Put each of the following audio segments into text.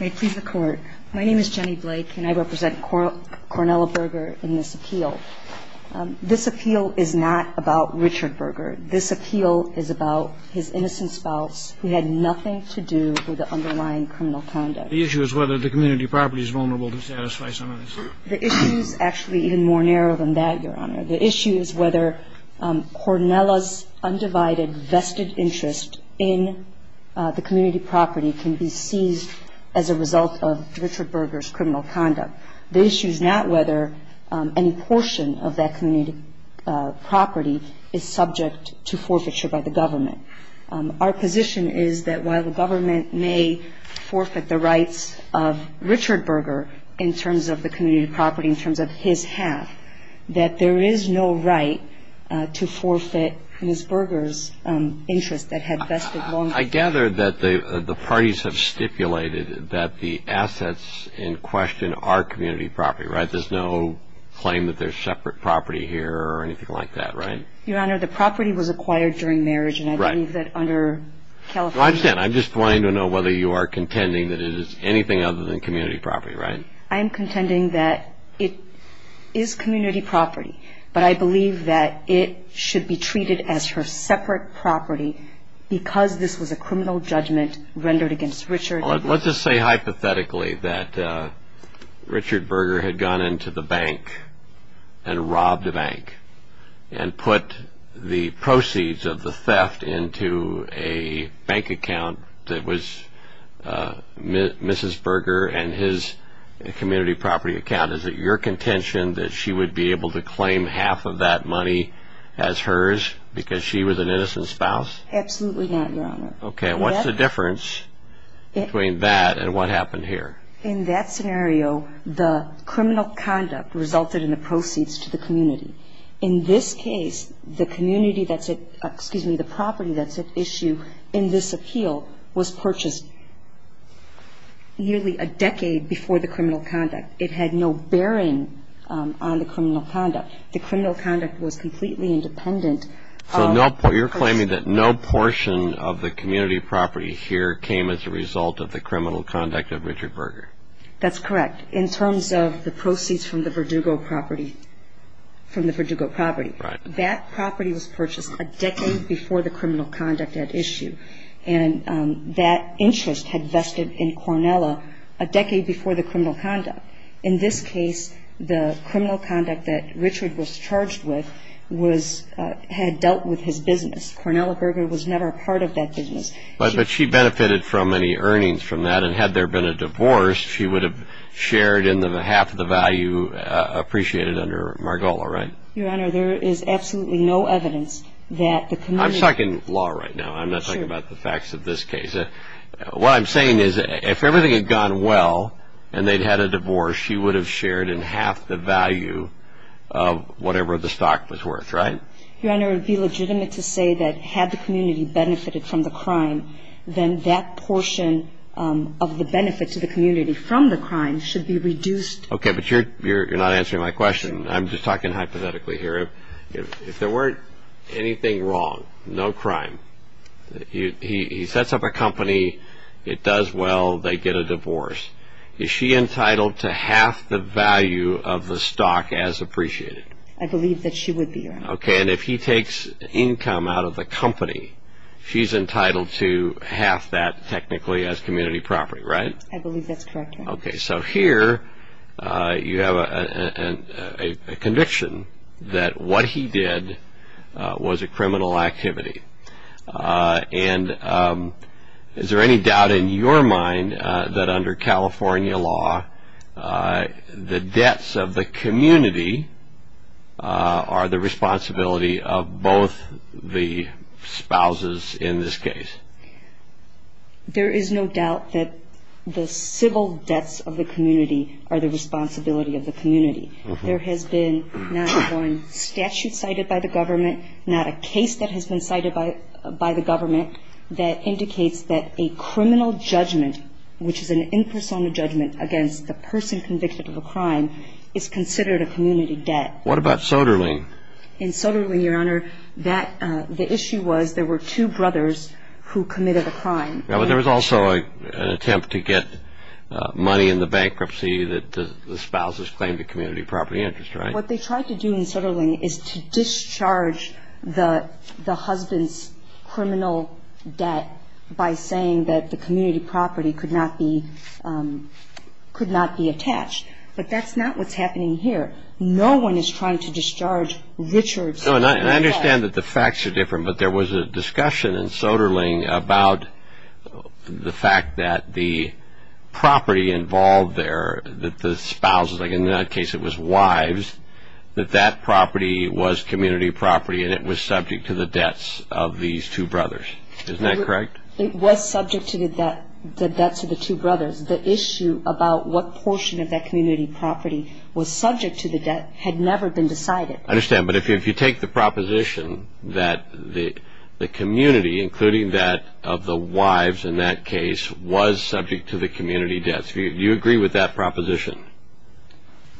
May it please the Court. My name is Jenny Blake, and I represent Cornella Berger in this appeal. This appeal is not about Richard Berger. This appeal is about his innocent spouse who had nothing to do with the underlying criminal conduct. The issue is whether the community property is vulnerable to satisfy some of this. The issue is actually even more narrow than that, Your Honor. The issue is whether Cornella's undivided vested interest in the community property can be seized as a result of Richard Berger's criminal conduct. The issue is not whether any portion of that community property is subject to forfeiture by the government. Our position is that while the government may forfeit the rights of Richard Berger in terms of the community property, in terms of his half, that there is no right to forfeit Ms. Berger's interest that had vested long- I gather that the parties have stipulated that the assets in question are community property, right? There's no claim that there's separate property here or anything like that, right? Your Honor, the property was acquired during marriage, and I believe that under California I understand. I'm just wanting to know whether you are contending that it is anything other than community property, right? I am contending that it is community property, but I believe that it should be treated as her separate property because this was a criminal judgment rendered against Richard. Let's just say hypothetically that Richard Berger had gone into the bank and robbed a bank and put the proceeds of the theft into a bank account that was Mrs. Berger and his community property account. Is it your contention that she would be able to claim half of that money as hers because she was an innocent spouse? Absolutely not, Your Honor. Okay, what's the difference between that and what happened here? In that scenario, the criminal conduct resulted in the proceeds to the community. In this case, the community that's at – excuse me, the property that's at issue in this appeal was purchased nearly a decade before the criminal conduct. It had no bearing on the criminal conduct. The criminal conduct was completely independent of- That's correct. In terms of the proceeds from the Verdugo property – from the Verdugo property. Right. That property was purchased a decade before the criminal conduct at issue, and that interest had vested in Cornella a decade before the criminal conduct. In this case, the criminal conduct that Richard was charged with was – had dealt with his business. Cornella Berger was never a part of that business. But she benefited from any earnings from that, and had there been a divorce, she would have shared in the half of the value appreciated under Margola, right? Your Honor, there is absolutely no evidence that the community – I'm talking law right now. I'm not talking about the facts of this case. What I'm saying is if everything had gone well and they'd had a divorce, she would have shared in half the value of whatever the stock was worth, right? Your Honor, it would be legitimate to say that had the community benefited from the crime, then that portion of the benefit to the community from the crime should be reduced. Okay, but you're not answering my question. I'm just talking hypothetically here. If there weren't anything wrong, no crime, he sets up a company, it does well, they get a divorce, is she entitled to half the value of the stock as appreciated? I believe that she would be, Your Honor. Okay, and if he takes income out of the company, she's entitled to half that technically as community property, right? I believe that's correct, Your Honor. Okay, so here you have a conviction that what he did was a criminal activity. And is there any doubt in your mind that under California law, the debts of the community are the responsibility of both the spouses in this case? There is no doubt that the civil debts of the community are the responsibility of the community. There has been not one statute cited by the government, not a case that has been cited by the government that indicates that a criminal judgment, which is an impersonal judgment against the person convicted of a crime, is considered a community debt. What about Soderling? In Soderling, Your Honor, the issue was there were two brothers who committed a crime. Yeah, but there was also an attempt to get money in the bankruptcy that the spouses claimed to community property interest, right? What they tried to do in Soderling is to discharge the husband's criminal debt by saying that the community property could not be attached. But that's not what's happening here. No one is trying to discharge Richard's criminal debt. I understand that the facts are different, but there was a discussion in Soderling about the fact that the property involved there, that the spouses, like in that case it was wives, that that property was community property and it was subject to the debts of these two brothers. Isn't that correct? It was subject to the debts of the two brothers. The issue about what portion of that community property was subject to the debt had never been decided. I understand. But if you take the proposition that the community, including that of the wives in that case, was subject to the community debts, do you agree with that proposition?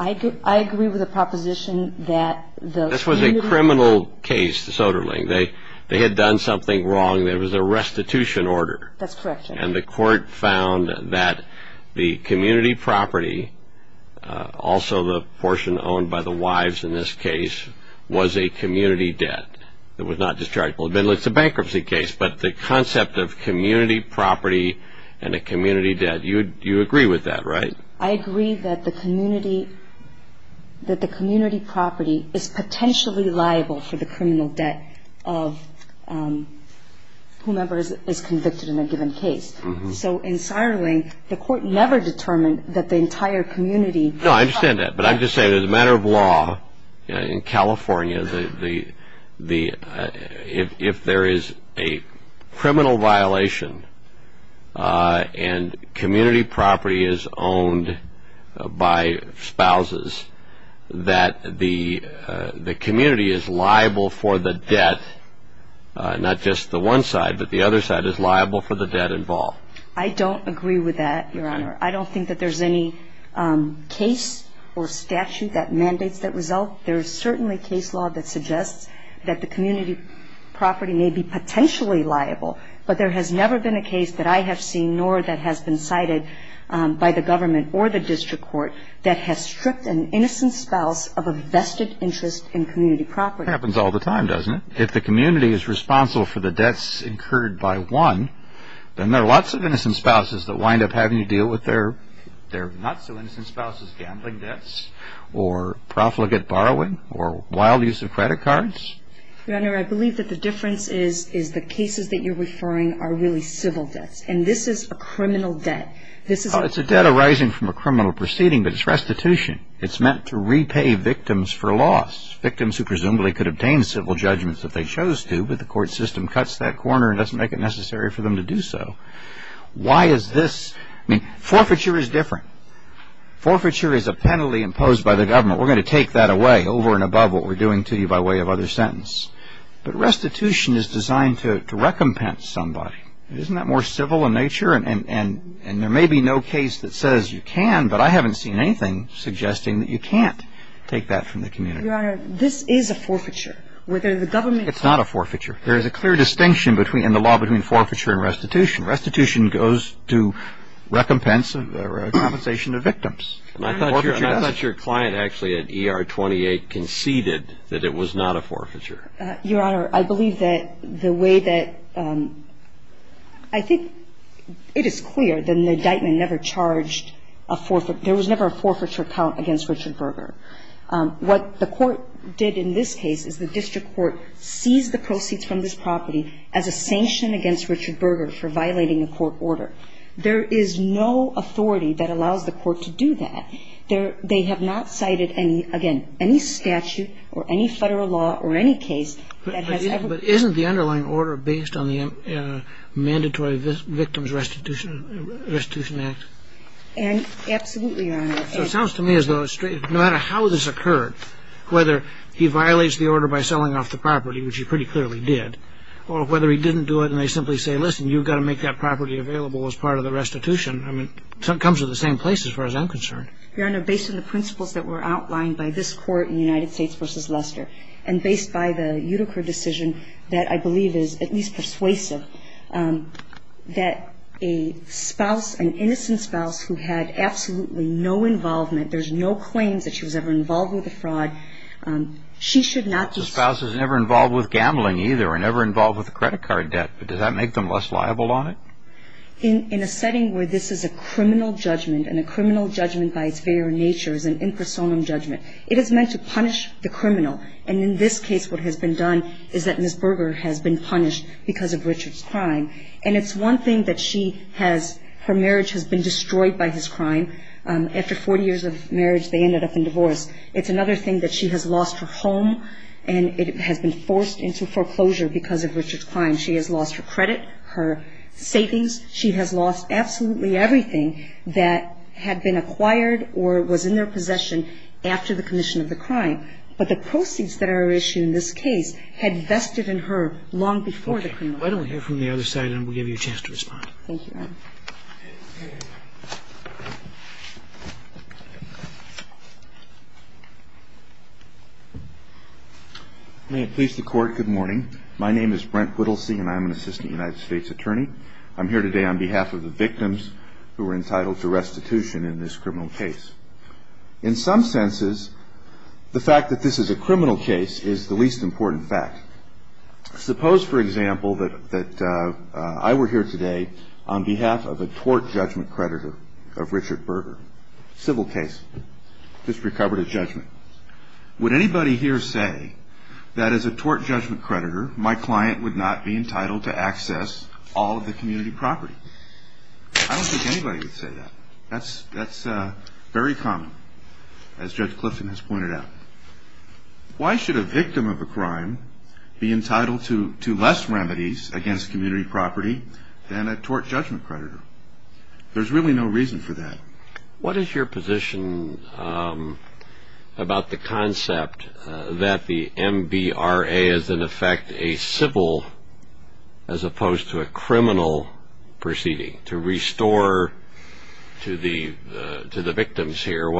I agree with the proposition that the community... This was a criminal case, Soderling. They had done something wrong. There was a restitution order. That's correct. And the court found that the community property, also the portion owned by the wives in this case, was a community debt that was not dischargeable. It's a bankruptcy case, but the concept of community property and a community debt, you agree with that, right? I agree that the community property is potentially liable for the criminal debt of whomever is convicted in a given case. So in Soderling, the court never determined that the entire community... No, I understand that. But I'm just saying that as a matter of law, in California, if there is a criminal violation and community property is owned by spouses, that the community is liable for the debt, not just the one side, but the other side is liable for the debt involved. I don't agree with that, Your Honor. I don't think that there's any case or statute that mandates that result. There is certainly case law that suggests that the community property may be potentially liable, but there has never been a case that I have seen nor that has been cited by the government or the district court that has stripped an innocent spouse of a vested interest in community property. It happens all the time, doesn't it? If the community is responsible for the debts incurred by one, then there are lots of innocent spouses that wind up having to deal with their not-so-innocent spouses gambling debts or profligate borrowing or wild use of credit cards. Your Honor, I believe that the difference is the cases that you're referring are really civil debts, and this is a criminal debt. It's a debt arising from a criminal proceeding, but it's restitution. It's meant to repay victims for loss, victims who presumably could obtain civil judgments if they chose to, but the court system cuts that corner and doesn't make it necessary for them to do so. Why is this? I mean, forfeiture is different. Forfeiture is a penalty imposed by the government. We're going to take that away, over and above what we're doing to you by way of other sentence. But restitution is designed to recompense somebody. Isn't that more civil in nature? And there may be no case that says you can, but I haven't seen anything suggesting that you can't take that from the community. Your Honor, this is a forfeiture. It's not a forfeiture. There is a clear distinction in the law between forfeiture and restitution. Restitution goes to recompense or compensation of victims. I thought your client actually at ER-28 conceded that it was not a forfeiture. Your Honor, I believe that the way that I think it is clear that the indictment never charged a forfeiture. There was never a forfeiture count against Richard Berger. What the court did in this case is the district court seized the proceeds from this property as a sanction against Richard Berger for violating a court order. There is no authority that allows the court to do that. They have not cited any, again, any statute or any Federal law or any case that has ever been cited. But isn't the underlying order based on the Mandatory Victims Restitution Act? Absolutely, Your Honor. It sounds to me as though no matter how this occurred, whether he violates the order by selling off the property, which he pretty clearly did, or whether he didn't do it and they simply say, listen, you've got to make that property available as part of the restitution. I mean, it comes to the same place as far as I'm concerned. Your Honor, based on the principles that were outlined by this court in United States v. Lester and based by the Utica decision that I believe is at least persuasive, that a spouse, an innocent spouse who had absolutely no involvement, there's no claims that she was ever involved with a fraud, she should not be sued. The spouse was never involved with gambling either or never involved with a credit card debt. But does that make them less liable on it? In a setting where this is a criminal judgment and a criminal judgment by its very nature is an impersonal judgment, it is meant to punish the criminal. And in this case, what has been done is that Ms. Berger has been punished because of Richard Berger. And it's one thing that she has, her marriage has been destroyed by his crime. After 40 years of marriage, they ended up in divorce. It's another thing that she has lost her home and it has been forced into foreclosure because of Richard's crime. She has lost her credit, her savings. She has lost absolutely everything that had been acquired or was in their possession after the commission of the crime. But the proceeds that are issued in this case had vested in her long before the criminal judgment. Why don't we hear from the other side and we'll give you a chance to respond. Thank you. May it please the Court, good morning. My name is Brent Whittlesey and I'm an assistant United States attorney. I'm here today on behalf of the victims who were entitled to restitution in this criminal case. In some senses, the fact that this is a criminal case is the least important fact. Suppose, for example, that I were here today on behalf of a tort judgment creditor of Richard Berger. Civil case. Just recovered a judgment. Would anybody here say that as a tort judgment creditor, my client would not be entitled to access all of the community property? I don't think anybody would say that. That's very common, as Judge Clifton has pointed out. Why should a victim of a crime be entitled to less remedies against community property than a tort judgment creditor? There's really no reason for that. What is your position about the concept that the MBRA is, in effect, a civil as opposed to a criminal proceeding? To restore to the victims here,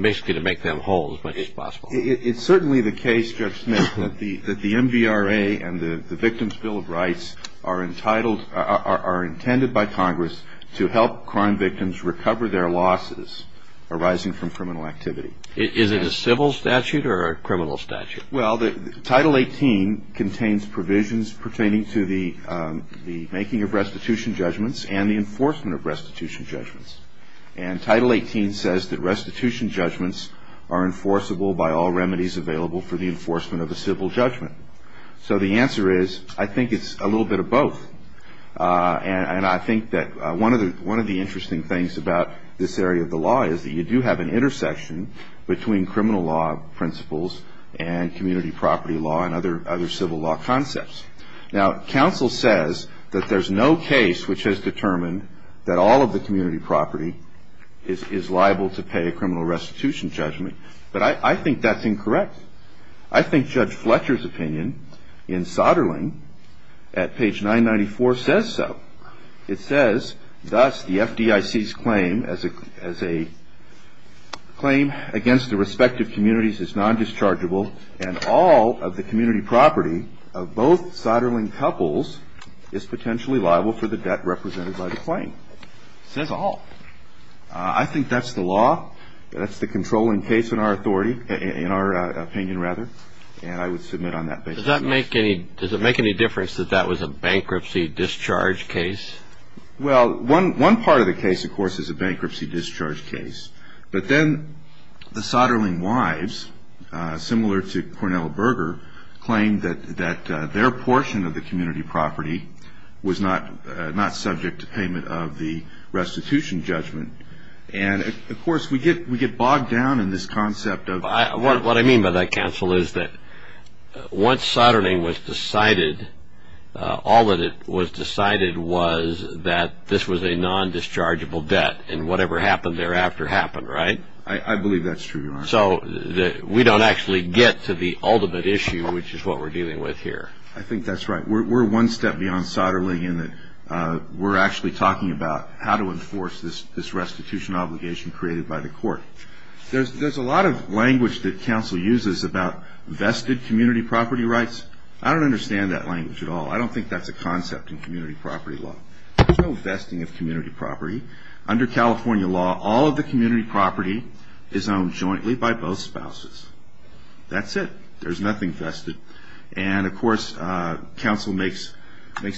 basically to make them whole as much as possible. It's certainly the case, Judge Smith, that the MBRA and the Victims' Bill of Rights are intended by Congress to help crime victims recover their losses arising from criminal activity. Is it a civil statute or a criminal statute? Well, Title 18 contains provisions pertaining to the making of restitution judgments and the enforcement of restitution judgments. And Title 18 says that restitution judgments are enforceable by all remedies available for the enforcement of a civil judgment. So the answer is, I think it's a little bit of both. And I think that one of the interesting things about this area of the law is that you do have an intersection between criminal law principles and community property law and other civil law concepts. Now, counsel says that there's no case which has determined that all of the community property is liable to pay a criminal restitution judgment. But I think that's incorrect. I think Judge Fletcher's opinion in Soderling at page 994 says so. It says, thus, the FDIC's claim as a claim against the respective communities is non-dischargeable and all of the community property of both Soderling couples is potentially liable for the debt represented by the claim. It says all. I think that's the law. That's the controlling case in our authority, in our opinion, rather. And I would submit on that basis. Does it make any difference that that was a bankruptcy discharge case? Well, one part of the case, of course, is a bankruptcy discharge case. But then the Soderling wives, similar to Cornell Berger, claimed that their portion of the community property was not subject to payment of the restitution judgment. And, of course, we get bogged down in this concept. What I mean by that, counsel, is that once Soderling was decided, all that was decided was that this was a non-dischargeable debt and whatever happened thereafter happened, right? I believe that's true, Your Honor. So we don't actually get to the ultimate issue, which is what we're dealing with here. I think that's right. We're one step beyond Soderling in that we're actually talking about how to enforce this restitution obligation created by the court. There's a lot of language that counsel uses about vested community property rights. I don't understand that language at all. I don't think that's a concept in community property law. There's no vesting of community property. Under California law, all of the community property is owned jointly by both spouses. That's it. There's nothing vested. And, of course, counsel makes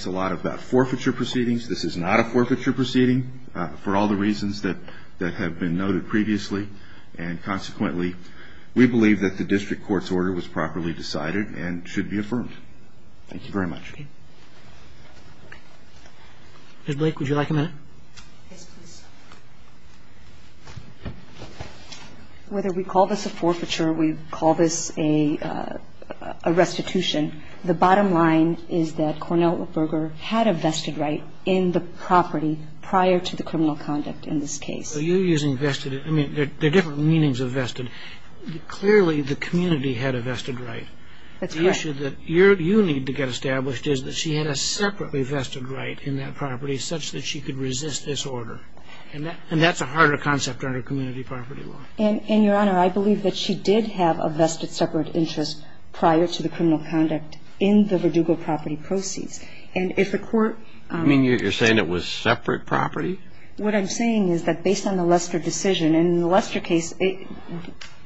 a lot about forfeiture proceedings. This is not a forfeiture proceeding for all the reasons that have been noted previously. And, consequently, we believe that the district court's order was properly decided and should be affirmed. Thank you very much. Ms. Blake, would you like a minute? Whether we call this a forfeiture or we call this a restitution, the bottom line is that Cornell Berger had a vested right in the property prior to the criminal conduct in this case. So you're using vested. I mean, there are different meanings of vested. Clearly, the community had a vested right. That's correct. The issue that you need to get established is that she had a separately vested right in that property such that she could resist this order. And that's a harder concept under community property law. And, Your Honor, I believe that she did have a vested separate interest prior to the criminal conduct in the Verdugo property proceeds. And if the court ---- You mean you're saying it was separate property? What I'm saying is that based on the Lester decision, in the Lester case, it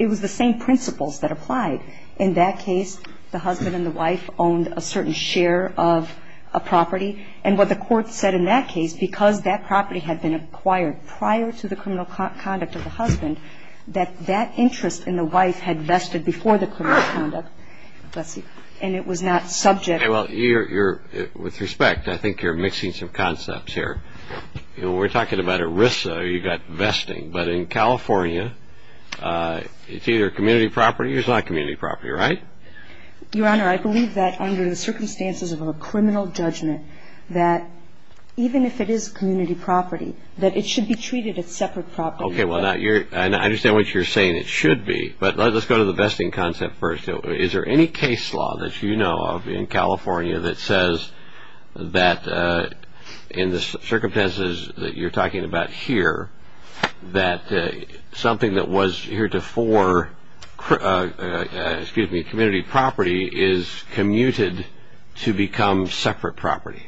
was the same principles that applied. In that case, the husband and the wife owned a certain share of a property. And what the court said in that case, because that property had been acquired prior to the criminal conduct of the husband, that that interest in the wife had vested before the criminal conduct. Let's see. And it was not subject. Well, you're ---- with respect, I think you're mixing some concepts here. When we're talking about ERISA, you've got vesting. But in California, it's either community property or it's not community property, right? Your Honor, I believe that under the circumstances of a criminal judgment, that even if it is community property, that it should be treated as separate property. Okay. Well, now you're ---- I understand what you're saying it should be. But let's go to the vesting concept first. Is there any case law that you know of in California that says that in the circumstances that you're talking about here, that something that was heretofore community property is commuted to become separate property?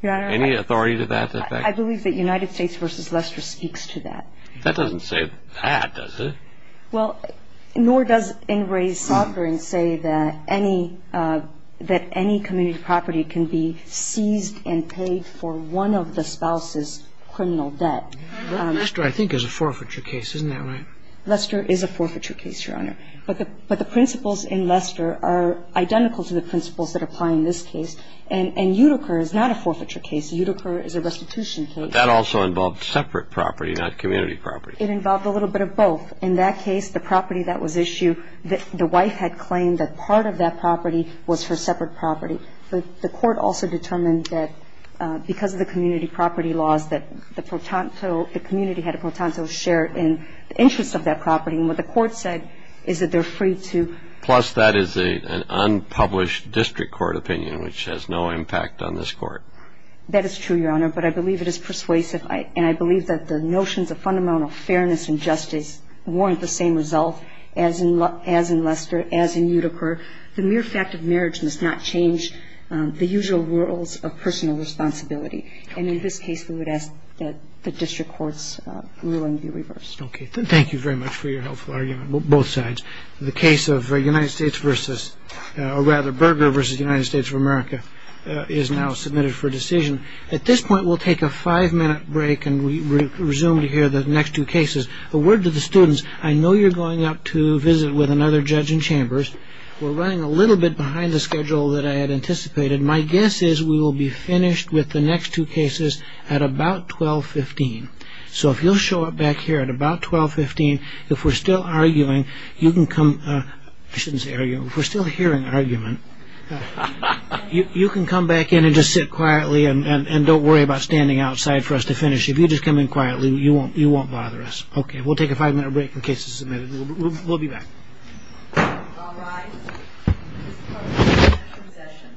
Your Honor. Any authority to that effect? I believe that United States v. Lester speaks to that. That doesn't say that, does it? Well, nor does NRA's sovereign say that any community property can be seized and paid for one of the spouse's criminal debt. Lester, I think, is a forfeiture case. Isn't that right? Lester is a forfeiture case, Your Honor. But the principles in Lester are identical to the principles that apply in this case. And Utica is not a forfeiture case. Utica is a restitution case. But that also involved separate property, not community property. It involved a little bit of both. In that case, the property that was issued, the wife had claimed that part of that property was her separate property. The court also determined that because of the community property laws, that the community had a pro tanto share in the interest of that property. And what the court said is that they're free to... Plus, that is an unpublished district court opinion, which has no impact on this Court. That is true, Your Honor. But I believe it is persuasive. And I believe that the notions of fundamental fairness and justice warrant the same result as in Lester, as in Utica. And in this case, we would ask that the district court's ruling be reversed. Okay. Thank you very much for your helpful argument, both sides. The case of United States v... or rather, Berger v. United States of America is now submitted for decision. At this point, we'll take a five-minute break, and we resume to hear the next two cases. A word to the students. I know you're going out to visit with another judge in Chambers. We're running a little bit behind the schedule that I had anticipated. My guess is we will be finished with the next two cases at about 12.15. So if you'll show up back here at about 12.15, if we're still arguing, you can come... I shouldn't say arguing. If we're still hearing argument, you can come back in and just sit quietly, and don't worry about standing outside for us to finish. If you just come in quietly, you won't bother us. Okay. We'll take a five-minute break in case it's submitted. We'll be back. All rise. This court is adjourned. Procession.